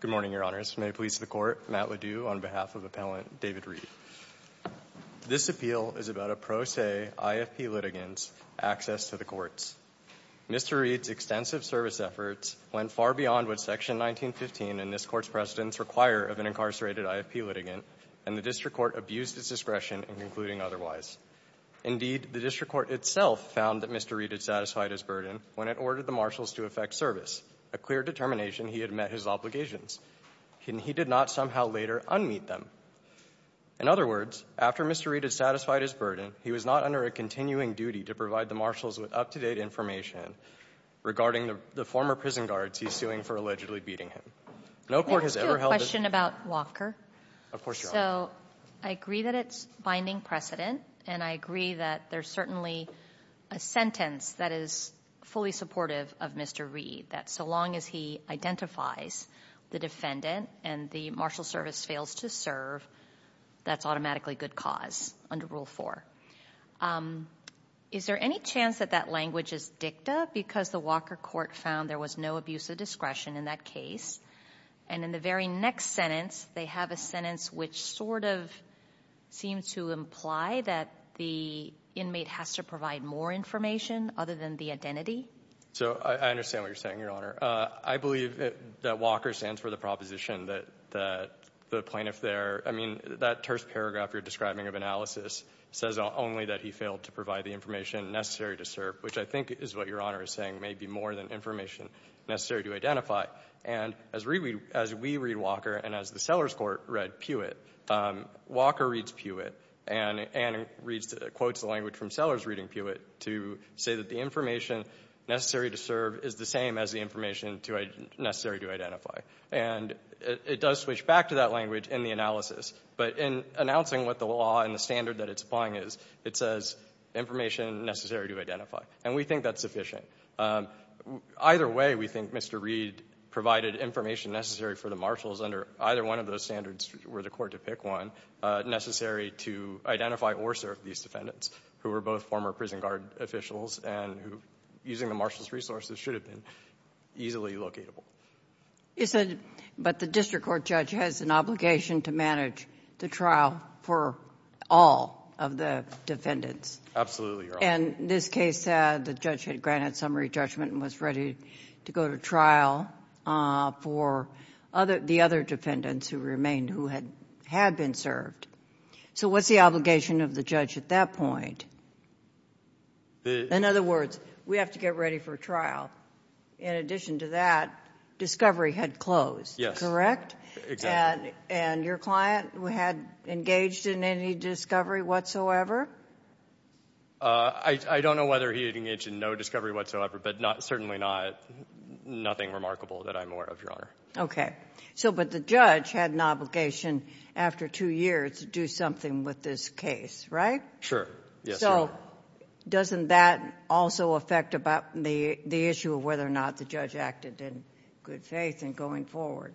Good morning, Your Honors. May it please the Court, Matt LeDoux on behalf of Appellant David Reed. This appeal is about a pro se IFP litigant's access to the courts. Mr. Reed's extensive service efforts went far beyond what Section 1915 and this Court's precedents require of an incarcerated IFP litigant, and the District Court abused its discretion in concluding otherwise. Indeed, the District Court itself found that Mr. Reed had satisfied his burden when it ordered the marshals to effect service, a clear determination he had met his obligations, and he did not somehow later unmeet them. In other words, after Mr. Reed had satisfied his burden, he was not under a continuing duty to provide the marshals with up-to-date information regarding the former prison guards he's suing for allegedly beating him. No Court has ever held this— I have a question about Walker. Of course, Your Honor. So I agree that it's binding precedent, and I agree that there's certainly a sentence that is fully supportive of Mr. Reed, that so long as he identifies the defendant and the marshal service fails to serve, that's automatically good cause under Rule 4. Is there any chance that that language is dicta because the Walker Court found there was no abuse of discretion in that case, and in the very next sentence, they have a sentence which sort of seems to imply that the inmate has to provide more information other than the identity? So I understand what you're saying, Your Honor. I believe that Walker stands for the proposition that the plaintiff there— I mean, that terse paragraph you're describing of analysis says only that he failed to provide the information necessary to serve, and as we read Walker and as the Sellers Court read Puyett, Walker reads Puyett and quotes the language from Sellers reading Puyett to say that the information necessary to serve is the same as the information necessary to identify. And it does switch back to that language in the analysis, but in announcing what the law and the standard that it's applying is, it says information necessary to identify, and we think that's sufficient. Either way, we think Mr. Reed provided information necessary for the marshals. Under either one of those standards, were the court to pick one necessary to identify or serve these defendants who were both former prison guard officials and who, using the marshals' resources, should have been easily locatable. But the district court judge has an obligation to manage the trial for all of the defendants. Absolutely, Your Honor. And this case said the judge had granted summary judgment and was ready to go to trial for the other defendants who had been served. So what's the obligation of the judge at that point? In other words, we have to get ready for trial. In addition to that, discovery had closed, correct? Yes, exactly. And your client had engaged in any discovery whatsoever? I don't know whether he engaged in no discovery whatsoever, but certainly nothing remarkable that I'm aware of, Your Honor. Okay. But the judge had an obligation after two years to do something with this case, right? Sure. So doesn't that also affect the issue of whether or not the judge acted in good faith in going forward?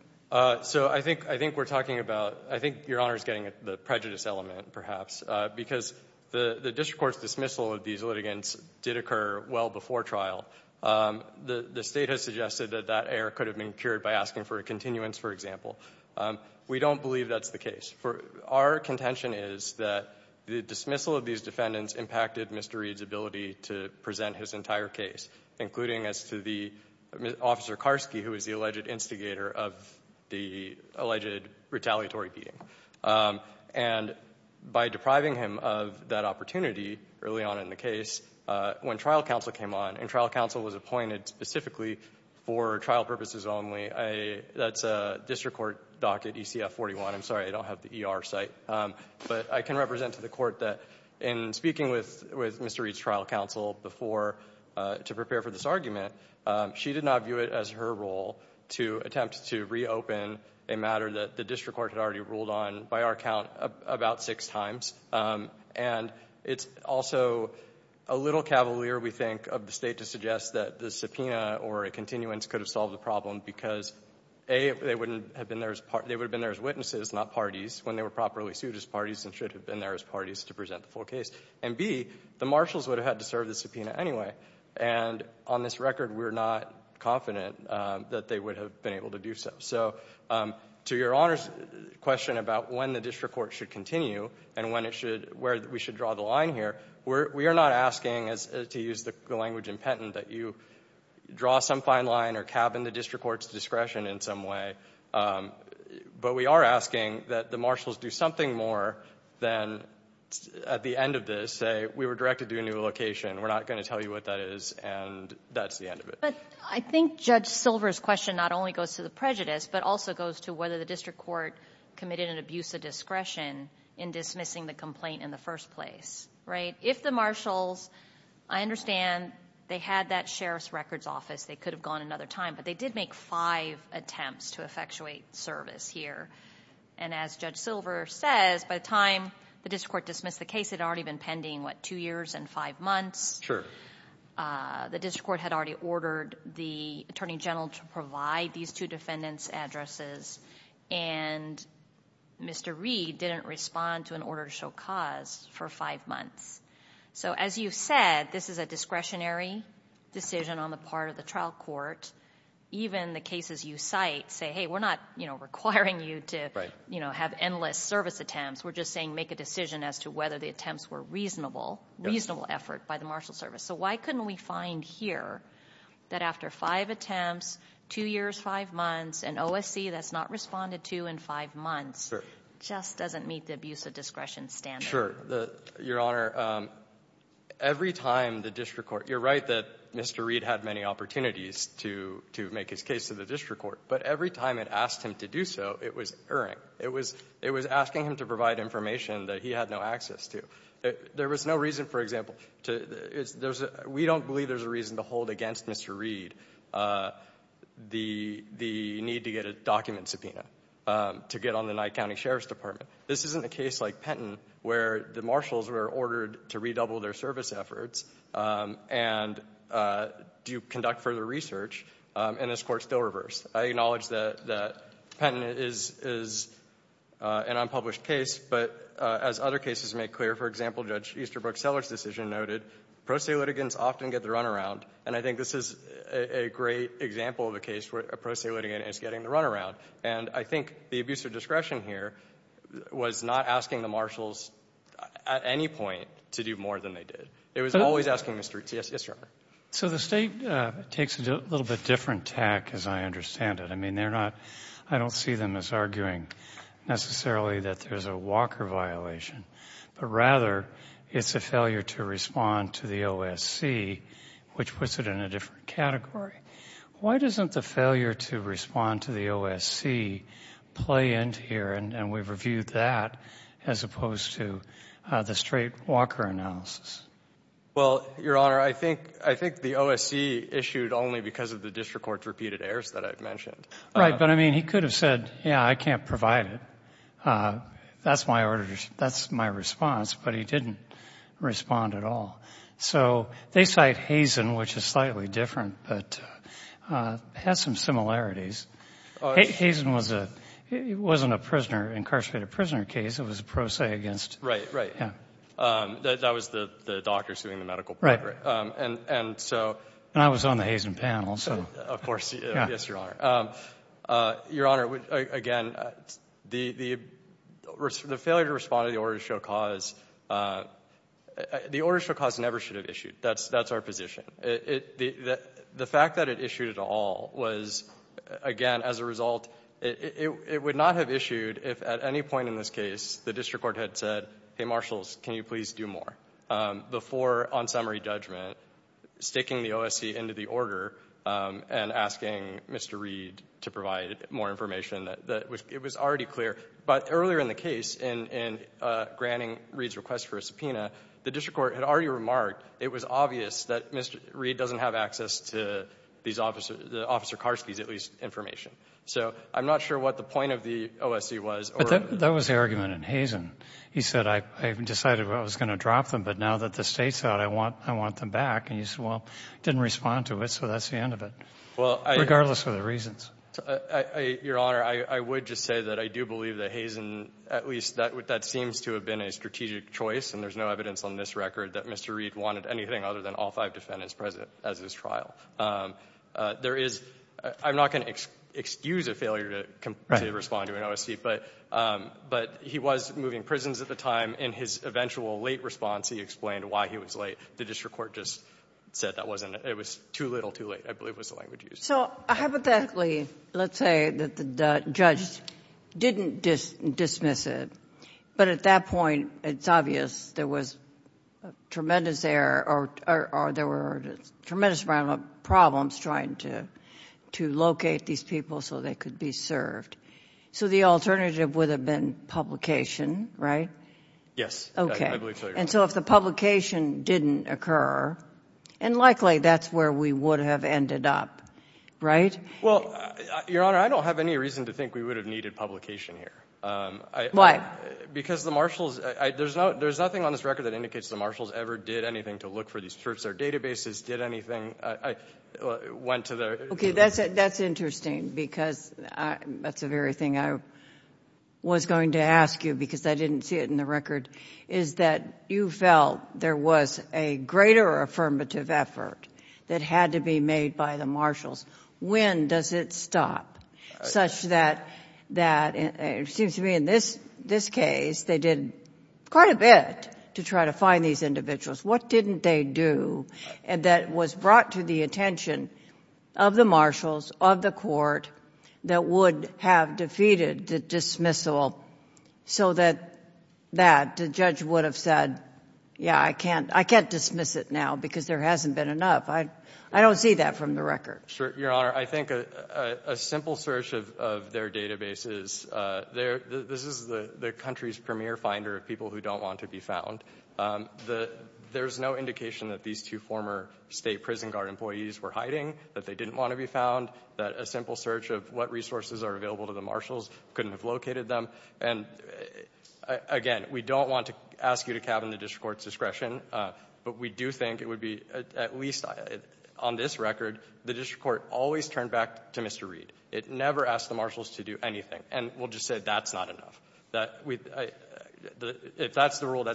So I think we're talking about—I think Your Honor is getting at the prejudice element, perhaps, because the district court's dismissal of these litigants did occur well before trial. The state has suggested that that error could have been cured by asking for a continuance, for example. We don't believe that's the case. Our contention is that the dismissal of these defendants impacted Mr. Reed's ability to present his entire case, including as to the—Officer Karski, who was the alleged instigator of the alleged retaliatory beating. And by depriving him of that opportunity early on in the case, when trial counsel came on and trial counsel was appointed specifically for trial purposes only, that's a district court docket, ECF-41. I'm sorry, I don't have the ER site. But I can represent to the court that in speaking with Mr. Reed's trial counsel before—to prepare for this argument, she did not view it as her role to attempt to reopen a matter that the district court had already ruled on, by our count, about six times. And it's also a little cavalier, we think, of the state to suggest that the subpoena or a continuance could have solved the problem because, A, they would have been there as witnesses, not parties, when they were properly sued as parties and should have been there as parties to present the full case. And, B, the marshals would have had to serve the subpoena anyway. And on this record, we're not confident that they would have been able to do so. So to your Honor's question about when the district court should continue and where we should draw the line here, we are not asking, to use the language in Penton, that you draw some fine line or cabin the district court's discretion in some way. But we are asking that the marshals do something more than at the end of this say, we were directed to a new location, we're not going to tell you what that is, and that's the end of it. But I think Judge Silver's question not only goes to the prejudice, but also goes to whether the district court committed an abuse of discretion in dismissing the complaint in the first place. Right? If the marshals, I understand they had that sheriff's records office, they could have gone another time. But they did make five attempts to effectuate service here. And as Judge Silver says, by the time the district court dismissed the case, it had already been pending, what, two years and five months? Sure. The district court had already ordered the attorney general to provide these two defendants' addresses. And Mr. Reed didn't respond to an order to show cause for five months. So as you said, this is a discretionary decision on the part of the trial court. Even the cases you cite say, hey, we're not requiring you to have endless service attempts. We're just saying make a decision as to whether the attempts were reasonable, reasonable effort by the marshal service. So why couldn't we find here that after five attempts, two years, five months, an OSC that's not responded to in five months? Sure. Just doesn't meet the abuse of discretion standard. Sure. Your Honor, every time the district court, you're right that Mr. Reed had many opportunities to make his case to the district court. But every time it asked him to do so, it was erring. It was asking him to provide information that he had no access to. There was no reason, for example, we don't believe there's a reason to hold against Mr. Reed the need to get a document subpoena to get on the Nye County Sheriff's Department. This isn't a case like Penton where the marshals were ordered to redouble their service efforts and do conduct further research. And this court still reversed. I acknowledge that Penton is an unpublished case. But as other cases make clear, for example, Judge Easterbrook-Seller's decision noted, pro se litigants often get the runaround. And I think this is a great example of a case where a pro se litigant is getting the runaround. And I think the abuse of discretion here was not asking the marshals at any point to do more than they did. It was always asking Mr. Reed. Yes, Your Honor. So the State takes a little bit different tack, as I understand it. I mean, they're not, I don't see them as arguing necessarily that there's a Walker violation. But rather, it's a failure to respond to the OSC, which puts it in a different category. Why doesn't the failure to respond to the OSC play into here, and we've reviewed that, as opposed to the straight Walker analysis? Well, Your Honor, I think the OSC issued only because of the district court's repeated errors that I've mentioned. Right. But, I mean, he could have said, yeah, I can't provide it. That's my response. But he didn't respond at all. So they cite Hazen, which is slightly different, but has some similarities. Hazen wasn't a prisoner, incarcerated prisoner case. It was a pro se against. Right, right. Yeah. That was the doctors doing the medical part. And so. And I was on the Hazen panel, so. Of course, yes, Your Honor. Your Honor, again, the failure to respond to the order to show cause, the order to show cause never should have issued. That's our position. The fact that it issued it all was, again, as a result, it would not have issued if at any point in this case the district court had said, hey, marshals, can you please do more? Before, on summary judgment, sticking the OSC into the order and asking Mr. Reed to provide more information, it was already clear. But earlier in the case, in granting Reed's request for a subpoena, the district court had already remarked it was obvious that Mr. Reed doesn't have access to Officer Karski's at least information. So I'm not sure what the point of the OSC was. But that was the argument in Hazen. He said, I decided I was going to drop them, but now that the state's out, I want them back. And you said, well, didn't respond to it, so that's the end of it. Regardless of the reasons. Your Honor, I would just say that I do believe that Hazen, at least that seems to have been a strategic choice. And there's no evidence on this record that Mr. Reed wanted anything other than all five defendants present as his trial. There is, I'm not going to excuse a failure to respond to an OSC, but he was moving prisons at the time. In his eventual late response, he explained why he was late. The district court just said that it was too little too late, I believe was the language used. So hypothetically, let's say that the judge didn't dismiss it, but at that point it's obvious there was tremendous error or there were tremendous amount of problems trying to locate these people so they could be served. So the alternative would have been publication, right? Yes. Okay. I believe so, Your Honor. And so if the publication didn't occur, and likely that's where we would have ended up, right? Well, Your Honor, I don't have any reason to think we would have needed publication here. Why? Because the marshals, there's nothing on this record that indicates the marshals ever did anything to look for these search service databases, did anything, went to the- Okay, that's interesting because that's the very thing I was going to ask you because I didn't see it in the record is that you felt there was a greater affirmative effort that had to be made by the marshals. When does it stop such that it seems to me in this case they did quite a bit to try to find these individuals. What didn't they do that was brought to the attention of the marshals, of the court, that would have defeated the dismissal so that the judge would have said, yeah, I can't dismiss it now because there hasn't been enough. I don't see that from the record. Sure, Your Honor. I think a simple search of their databases, this is the country's premier finder of people who don't want to be found. There's no indication that these two former state prison guard employees were hiding, that they didn't want to be found, that a simple search of what resources are available to the marshals couldn't have located them. And again, we don't want to ask you to cabin the district court's discretion, but we do think it would be, at least on this record, the district court always turned back to Mr. Reed. It never asked the marshals to do anything. And we'll just say that's not enough. If that's the rule,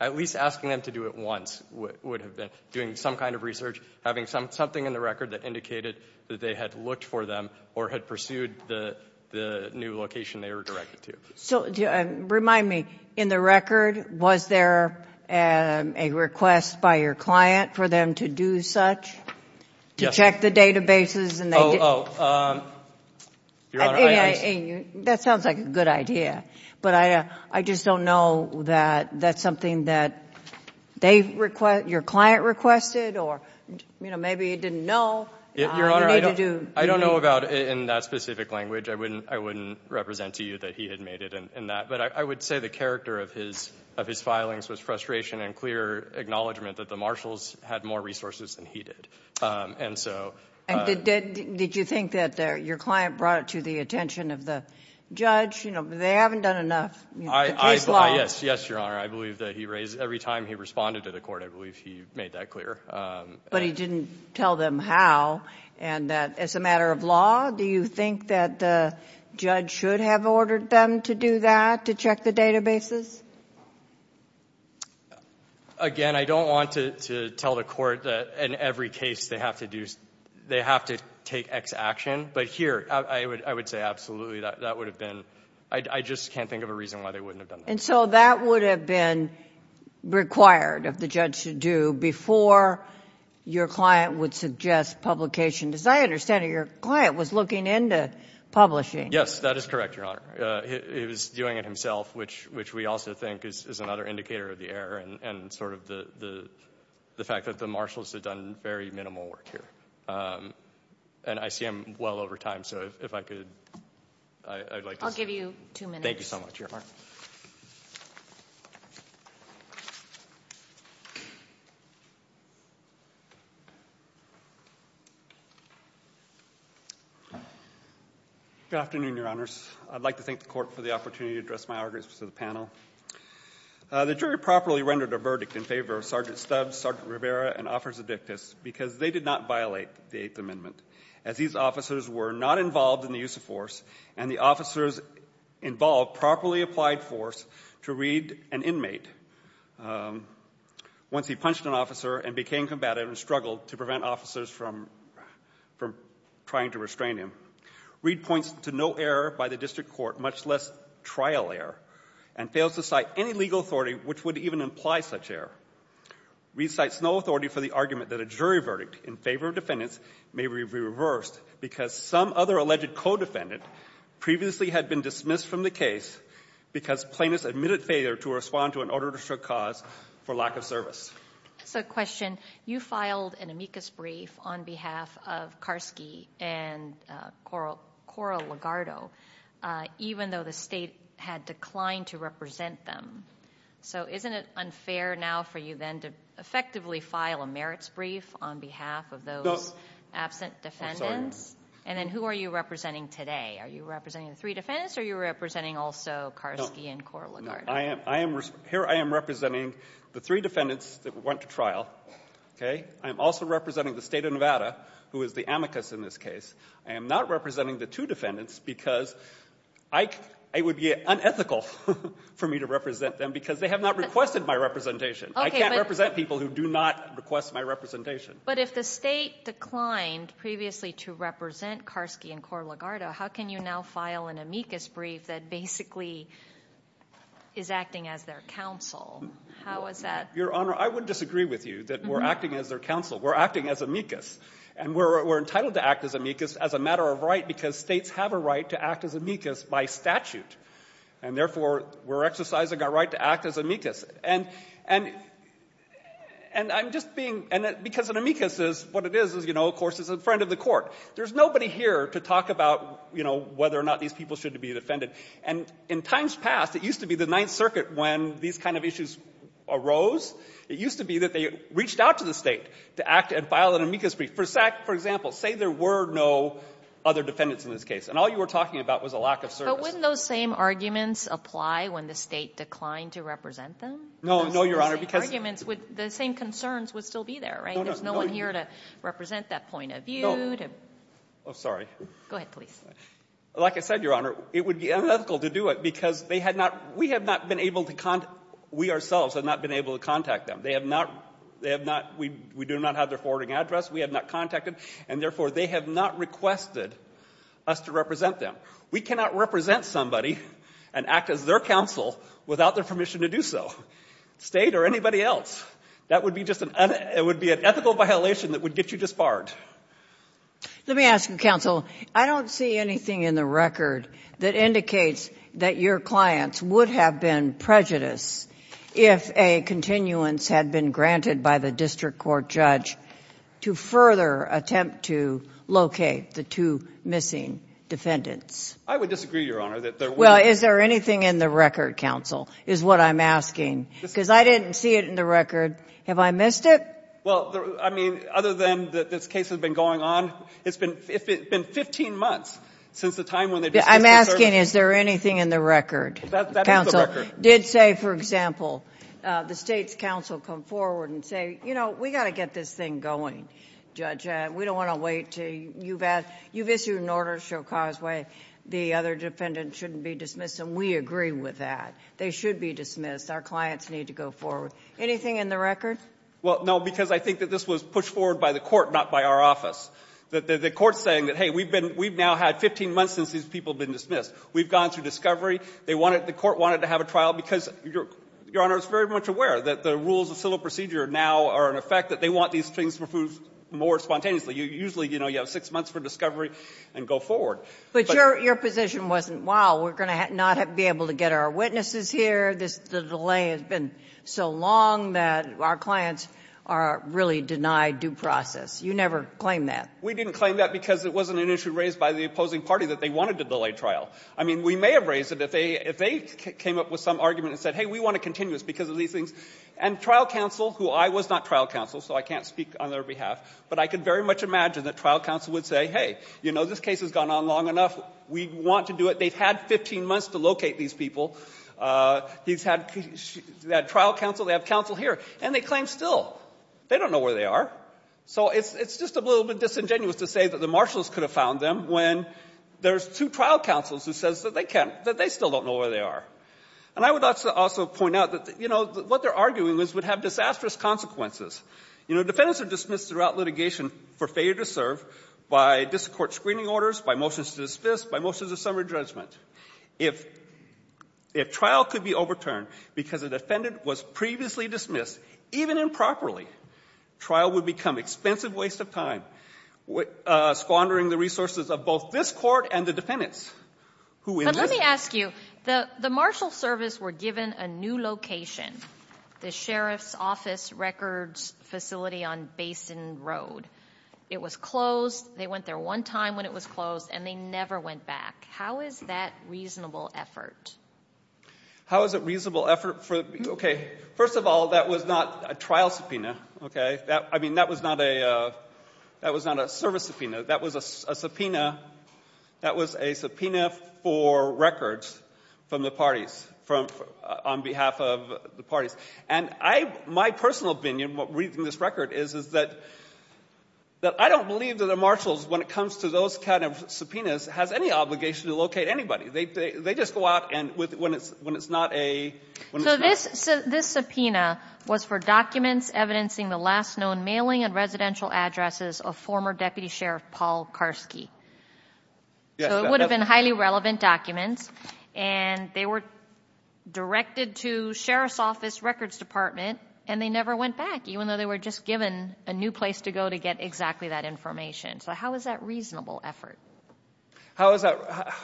at least asking them to do it once would have been doing some kind of research, having something in the record that indicated that they had looked for them or had pursued the new location they were directed to. So remind me, in the record, was there a request by your client for them to do such, to check the databases? Oh, Your Honor, I understand. That sounds like a good idea. But I just don't know that that's something that your client requested, or maybe he didn't know. Your Honor, I don't know about it in that specific language. I wouldn't represent to you that he had made it in that. But I would say the character of his filings was frustration and clear acknowledgement that the marshals had more resources than he did. And did you think that your client brought it to the attention of the judge? They haven't done enough. Yes, Your Honor. I believe that every time he responded to the court, I believe he made that clear. But he didn't tell them how. And as a matter of law, do you think that the judge should have ordered them to do that, to check the databases? Again, I don't want to tell the court that in every case they have to do, they have to take X action. But here, I would say absolutely, that would have been, I just can't think of a reason why they wouldn't have done that. And so that would have been required of the judge to do before your client would suggest publication. As I understand it, your client was looking into publishing. Yes, that is correct, Your Honor. He was doing it himself, which we also think is another indicator of the error and sort of the fact that the marshals had done very minimal work here. And I see I'm well over time, so if I could, I'd like to... I'll give you two minutes. Thank you so much, Your Honor. Good afternoon, Your Honors. I'd like to thank the court for the opportunity to address my arguments to the panel. The jury properly rendered a verdict in favor of Sergeant Stubbs, Sergeant Rivera, and Officer Dictus because they did not violate the Eighth Amendment. As these officers were not involved in the use of force, and the officers involved properly applied force to read an inmate once he punched an officer and became combative and struggled to prevent officers from trying to restrain him. Reed points to no error by the district court, much less trial error, and fails to cite any legal authority which would even imply such error. Reed cites no authority for the argument that a jury verdict in favor of defendants may be reversed because some other alleged co-defendant previously had been dismissed from the case because plaintiffs admitted failure to respond to an order to show cause for lack of service. So, question. You filed an amicus brief on behalf of Karski and Cora Ligardo even though the state had declined to represent them. So, isn't it unfair now for you then to effectively file a merits brief on behalf of those absent defendants? And then who are you representing today? Are you representing the three defendants or are you representing also Karski and Cora Ligardo? Here I am representing the three defendants that went to trial. I am also representing the state of Nevada, who is the amicus in this case. I am not representing the two defendants because it would be unethical for me to represent them because they have not requested my representation. I can't represent people who do not request my representation. But if the state declined previously to represent Karski and Cora Ligardo, how can you now file an amicus brief that basically is acting as their counsel? How is that? Your Honor, I would disagree with you that we're acting as their counsel. We're acting as amicus. And we're entitled to act as amicus as a matter of right because states have a right to act as amicus by statute. And therefore, we're exercising our right to act as amicus. And I'm just being – because an amicus is – what it is, of course, is in front of the court. There's nobody here to talk about, you know, whether or not these people should be defended. And in times past, it used to be the Ninth Circuit, when these kind of issues arose, it used to be that they reached out to the State to act and file an amicus brief. For example, say there were no other defendants in this case, and all you were talking about was a lack of service. But wouldn't those same arguments apply when the State declined to represent them? No, no, Your Honor, because – The same arguments would – the same concerns would still be there, right? No, no. There's no one here to represent that point of view. No. Oh, sorry. Go ahead, please. Like I said, Your Honor, it would be unethical to do it because they had not – we have not been able to – we ourselves have not been able to contact them. They have not – they have not – we do not have their forwarding address. We have not contacted. And therefore, they have not requested us to represent them. We cannot represent somebody and act as their counsel without their permission to do so, State or anybody else. That would be just an – it would be an ethical violation that would get you disbarred. Let me ask you, Counsel. I don't see anything in the record that indicates that your clients would have been prejudiced if a continuance had been granted by the district court judge to further attempt to locate the two missing defendants. I would disagree, Your Honor, that there were – Well, is there anything in the record, Counsel, is what I'm asking? Because I didn't see it in the record. Have I missed it? Well, I mean, other than that this case has been going on, it's been – it's been 15 months since the time when they – I'm asking is there anything in the record. That is the record. Counsel did say, for example, the State's counsel come forward and say, you know, we've got to get this thing going, Judge. We don't want to wait until you've – you've issued an order to show causeway. The other defendant shouldn't be dismissed. And we agree with that. They should be dismissed. Our clients need to go forward. Anything in the record? Well, no, because I think that this was pushed forward by the court, not by our office. The court's saying that, hey, we've been – we've now had 15 months since these people have been dismissed. We've gone through discovery. They wanted – the court wanted to have a trial because, Your Honor, it's very much aware that the rules of civil procedure now are in effect, that they want these things to move more spontaneously. Usually, you know, you have six months for discovery and go forward. But your position wasn't, wow, we're going to not be able to get our witnesses here, this – the delay has been so long that our clients are really denied due process. You never claimed that. We didn't claim that because it wasn't an issue raised by the opposing party that they wanted to delay trial. I mean, we may have raised it if they – if they came up with some argument and said, hey, we want to continue this because of these things. And trial counsel, who I was not trial counsel, so I can't speak on their behalf, but I could very much imagine that trial counsel would say, hey, you know, this case has gone on long enough. We want to do it. They've had 15 months to locate these people. He's had – they had trial counsel. They have counsel here. And they claim still. They don't know where they are. So it's just a little bit disingenuous to say that the marshals could have found them when there's two trial counsels who says that they can't – that they still don't know where they are. And I would also point out that, you know, what they're arguing is would have disastrous consequences. You know, defendants are dismissed throughout litigation for failure to serve by district court screening orders, by motions to dismiss, by motions of summary judgment. If – if trial could be overturned because a defendant was previously dismissed, even improperly, trial would become expensive waste of time, squandering the resources of both this Court and the defendants. Who is this? But let me ask you. The – the marshal service were given a new location, the Sheriff's Office Records facility on Basin Road. It was closed. They went there one time when it was closed, and they never went back. How is that reasonable effort? How is it reasonable effort for – okay. First of all, that was not a trial subpoena, okay. That – I mean, that was not a – that was not a service subpoena. That was a subpoena – that was a subpoena for records from the parties, from – on behalf of the parties. And I – my personal opinion, reading this record, is that – that I don't believe that the marshals, when it comes to those kind of subpoenas, has any obligation to locate anybody. They – they just go out and with – when it's – when it's not a – So this – so this subpoena was for documents evidencing the last known mailing and residential addresses of former Deputy Sheriff Paul Karski. Yes. So it would have been highly relevant documents, and they were directed to Sheriff's Records Department, and they never went back, even though they were just given a new place to go to get exactly that information. So how is that reasonable effort? How is that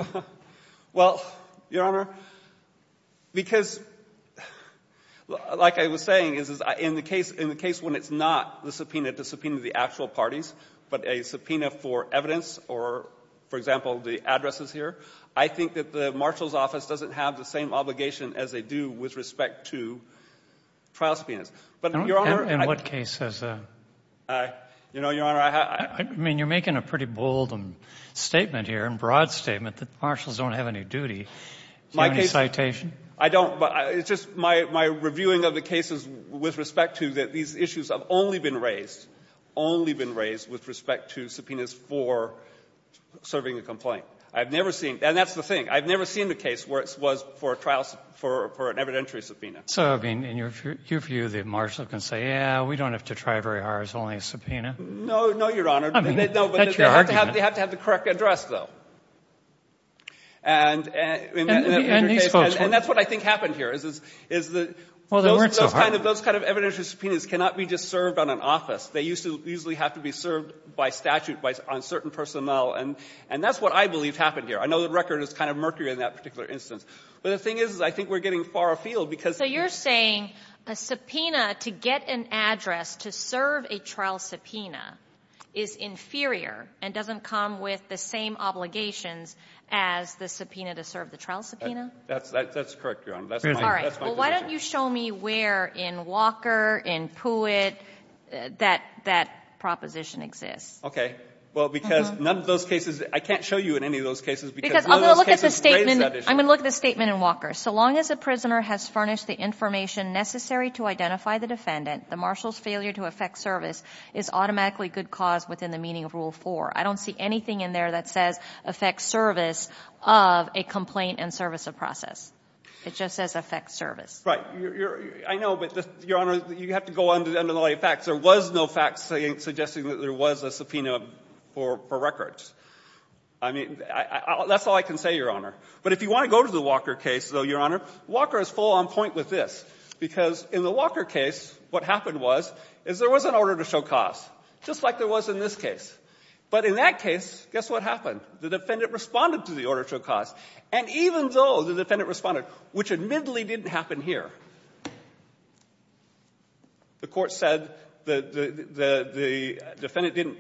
– well, Your Honor, because, like I was saying, in the case – in the case when it's not the subpoena to subpoena the actual parties, but a subpoena for evidence or, for example, the addresses here, I think that the marshal's office doesn't have the same obligation as they do with respect to trial subpoenas. But, Your Honor, I – In what cases? You know, Your Honor, I – I mean, you're making a pretty bold statement here, a broad statement, that marshals don't have any duty. My case – I don't, but it's just my – my reviewing of the cases with respect to that these issues have only been raised, only been raised with respect to subpoenas for serving a complaint. I've never seen – and that's the thing. I've never seen a case where it was for a trial – for an evidentiary subpoena. So, I mean, in your view, the marshal can say, yeah, we don't have to try very hard, it's only a subpoena? No, no, Your Honor. I mean, that's your argument. No, but they have to have the correct address, though. And in that particular case – And that's what I think happened here, is the – Well, they weren't so hard. Those kind of evidentiary subpoenas cannot be just served on an office. They usually have to be served by statute on certain personnel. And that's what I believe happened here. I know the record is kind of murky in that particular instance. But the thing is, I think we're getting far afield because – So you're saying a subpoena to get an address to serve a trial subpoena is inferior and doesn't come with the same obligations as the subpoena to serve the trial subpoena? That's correct, Your Honor. That's my position. Well, why don't you show me where in Walker, in Puit, that that proposition exists? Okay. Well, because none of those cases – I can't show you in any of those cases because none of those cases raise that issue. I'm going to look at the statement in Walker. So long as a prisoner has furnished the information necessary to identify the defendant, the marshal's failure to effect service is automatically good cause within the meaning of Rule 4. I don't see anything in there that says effect service of a complaint and service of process. It just says effect service. Right. I know, but, Your Honor, you have to go under the lay of facts. There was no fact suggesting that there was a subpoena for records. I mean, that's all I can say, Your Honor. But if you want to go to the Walker case, though, Your Honor, Walker is full on point with this, because in the Walker case what happened was is there was an order to show cause, just like there was in this case. But in that case, guess what happened? The defendant responded to the order to show cause. And even though the defendant responded, which admittedly didn't happen here, the court said the defendant didn't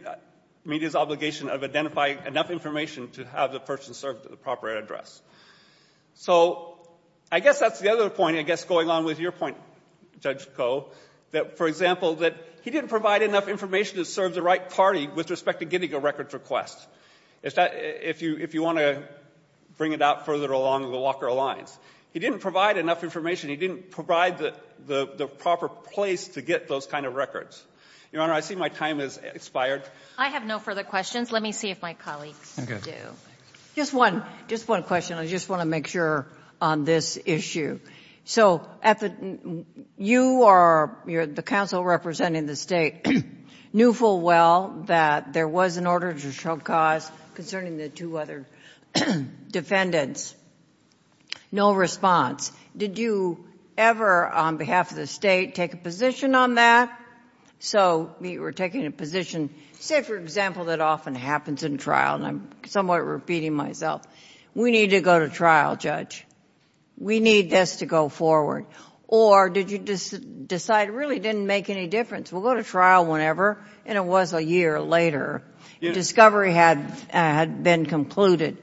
meet his obligation of identifying enough information to have the person serve to the proper address. So I guess that's the other point, I guess, going on with your point, Judge Koh, that, for example, that he didn't provide enough information to serve the right party with respect to getting a records request, if you want to bring it out further along the Walker Alliance. He didn't provide enough information. He didn't provide the proper place to get those kind of records. Your Honor, I see my time has expired. I have no further questions. Let me see if my colleagues do. Just one question. I just want to make sure on this issue. So you are the counsel representing the State, knew full well that there was an order to show cause concerning the two other defendants. No response. Did you ever, on behalf of the State, take a position on that? So you were taking a position. Say, for example, that often happens in trial, and I'm somewhat repeating myself. We need to go to trial, Judge. We need this to go forward. Or did you decide it really didn't make any difference? We'll go to trial whenever. And it was a year later. Discovery had been concluded.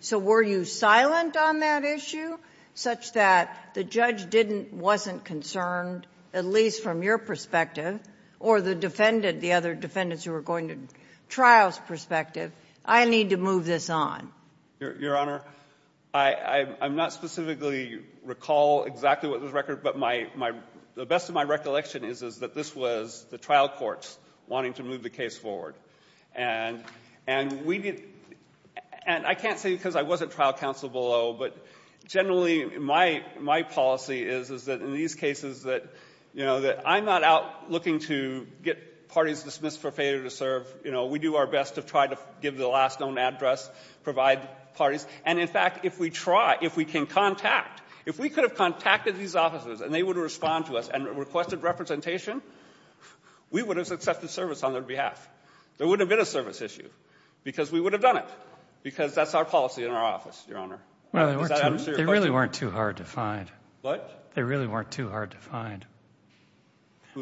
So were you silent on that issue such that the judge didn't, wasn't concerned, at least from your perspective, or the defendant, the other defendants who were going to trial's perspective, I need to move this on? Your Honor, I'm not specifically recall exactly what the record, but the best of my recollection is that this was the trial courts wanting to move the case forward. And we did, and I can't say because I wasn't trial counsel below, but generally my policy is that in these cases that, you know, that I'm not out looking to get parties dismissed for failure to serve. You know, we do our best to try to give the last known address, provide parties. And, in fact, if we try, if we can contact, if we could have contacted these officers and they would have responded to us and requested representation, we would have accepted service on their behalf. There wouldn't have been a service issue because we would have done it. Because that's our policy in our office, Your Honor. Well, they really weren't too hard to find. What? They really weren't too hard to find.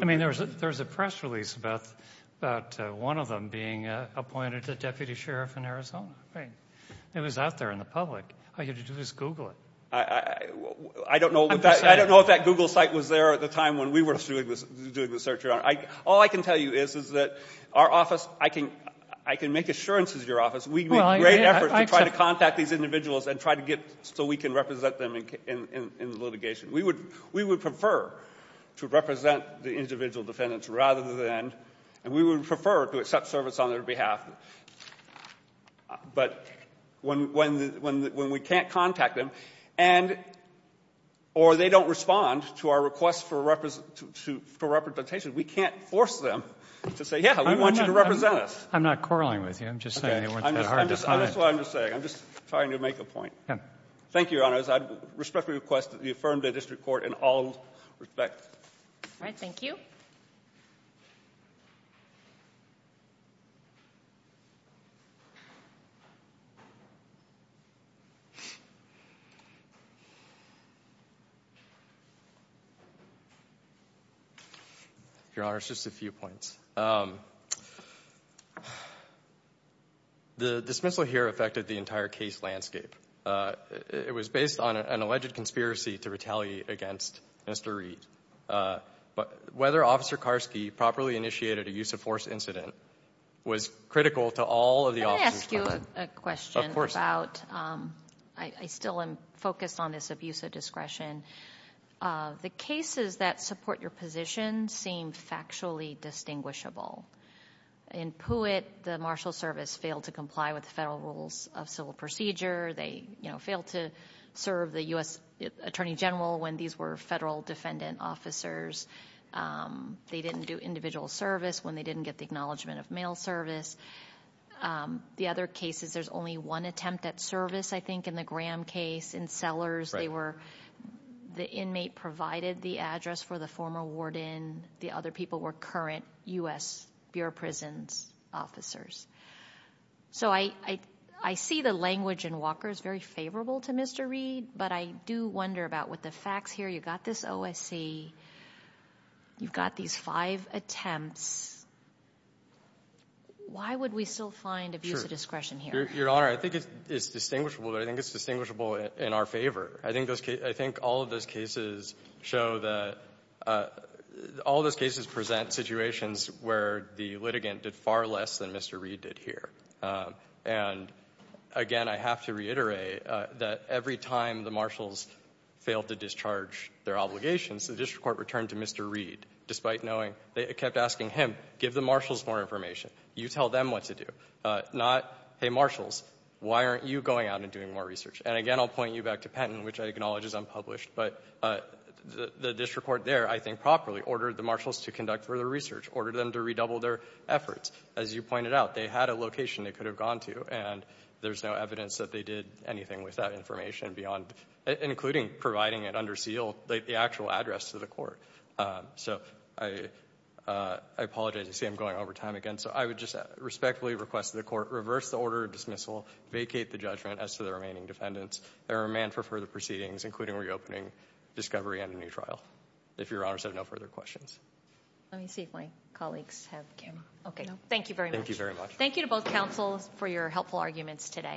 I mean, there was a press release about one of them being appointed a deputy sheriff in Arizona. Right. It was out there in the public. All you had to do was Google it. I don't know if that Google site was there at the time when we were doing the search, Your Honor. All I can tell you is that our office, I can make assurance as your office, we make great efforts to try to contact these individuals and try to get so we can represent them in litigation. We would prefer to represent the individual defendants rather than, and we would prefer to accept service on their behalf. But when we can't contact them or they don't respond to our request for representation, we can't force them to say, yeah, we want you to represent us. I'm not quarreling with you. I'm just saying they weren't too hard to find. That's what I'm just saying. I'm just trying to make a point. Thank you, Your Honor. I respectfully request that you affirm the district court in all respect. All right. Thank you. Your Honor, just a few points. The dismissal here affected the entire case landscape. It was based on an alleged conspiracy to retaliate against Mr. Reed. Whether Officer Karski properly initiated a use of force incident was critical to all of the officers present. Let me ask you a question. Of course. I still am focused on this abuse of discretion. The cases that support your position seem factually distinguishable. In Puitt, the Marshal Service failed to comply with the federal rules of civil procedure. They failed to serve the U.S. Attorney General when these were federal defendant officers. They didn't do individual service when they didn't get the acknowledgement of mail service. The other cases, there's only one attempt at service, I think, in the Graham case. In Sellers, the inmate provided the address for the former warden. The other people were current U.S. Bureau of Prisons officers. I see the language in Walker is very favorable to Mr. Reed, but I do wonder about with the facts here. You've got this OSC. You've got these five attempts. Why would we still find abuse of discretion here? Your Honor, I think it's distinguishable, but I think it's distinguishable in our favor. I think all of those cases present situations where the litigant did far less than Mr. Reed did here. And, again, I have to reiterate that every time the Marshals failed to discharge their obligations, the district court returned to Mr. Reed, despite knowing they kept asking him, give the Marshals more information. You tell them what to do, not, hey, Marshals, why aren't you going out and doing more research? And, again, I'll point you back to Penton, which I acknowledge is unpublished, but the district court there, I think properly, ordered the Marshals to conduct further research, ordered them to redouble their efforts. As you pointed out, they had a location they could have gone to, and there's no evidence that they did anything with that information and beyond, including providing it under seal, the actual address to the court. So I apologize. I see I'm going over time again. So I would just respectfully request that the court reverse the order of dismissal, vacate the judgment as to the remaining defendants, and remand for further proceedings, including reopening, discovery, and a new trial, if Your Honors have no further questions. Let me see if my colleagues have camera. Okay. Thank you very much. Thank you very much. Thank you to both counsels for your helpful arguments today.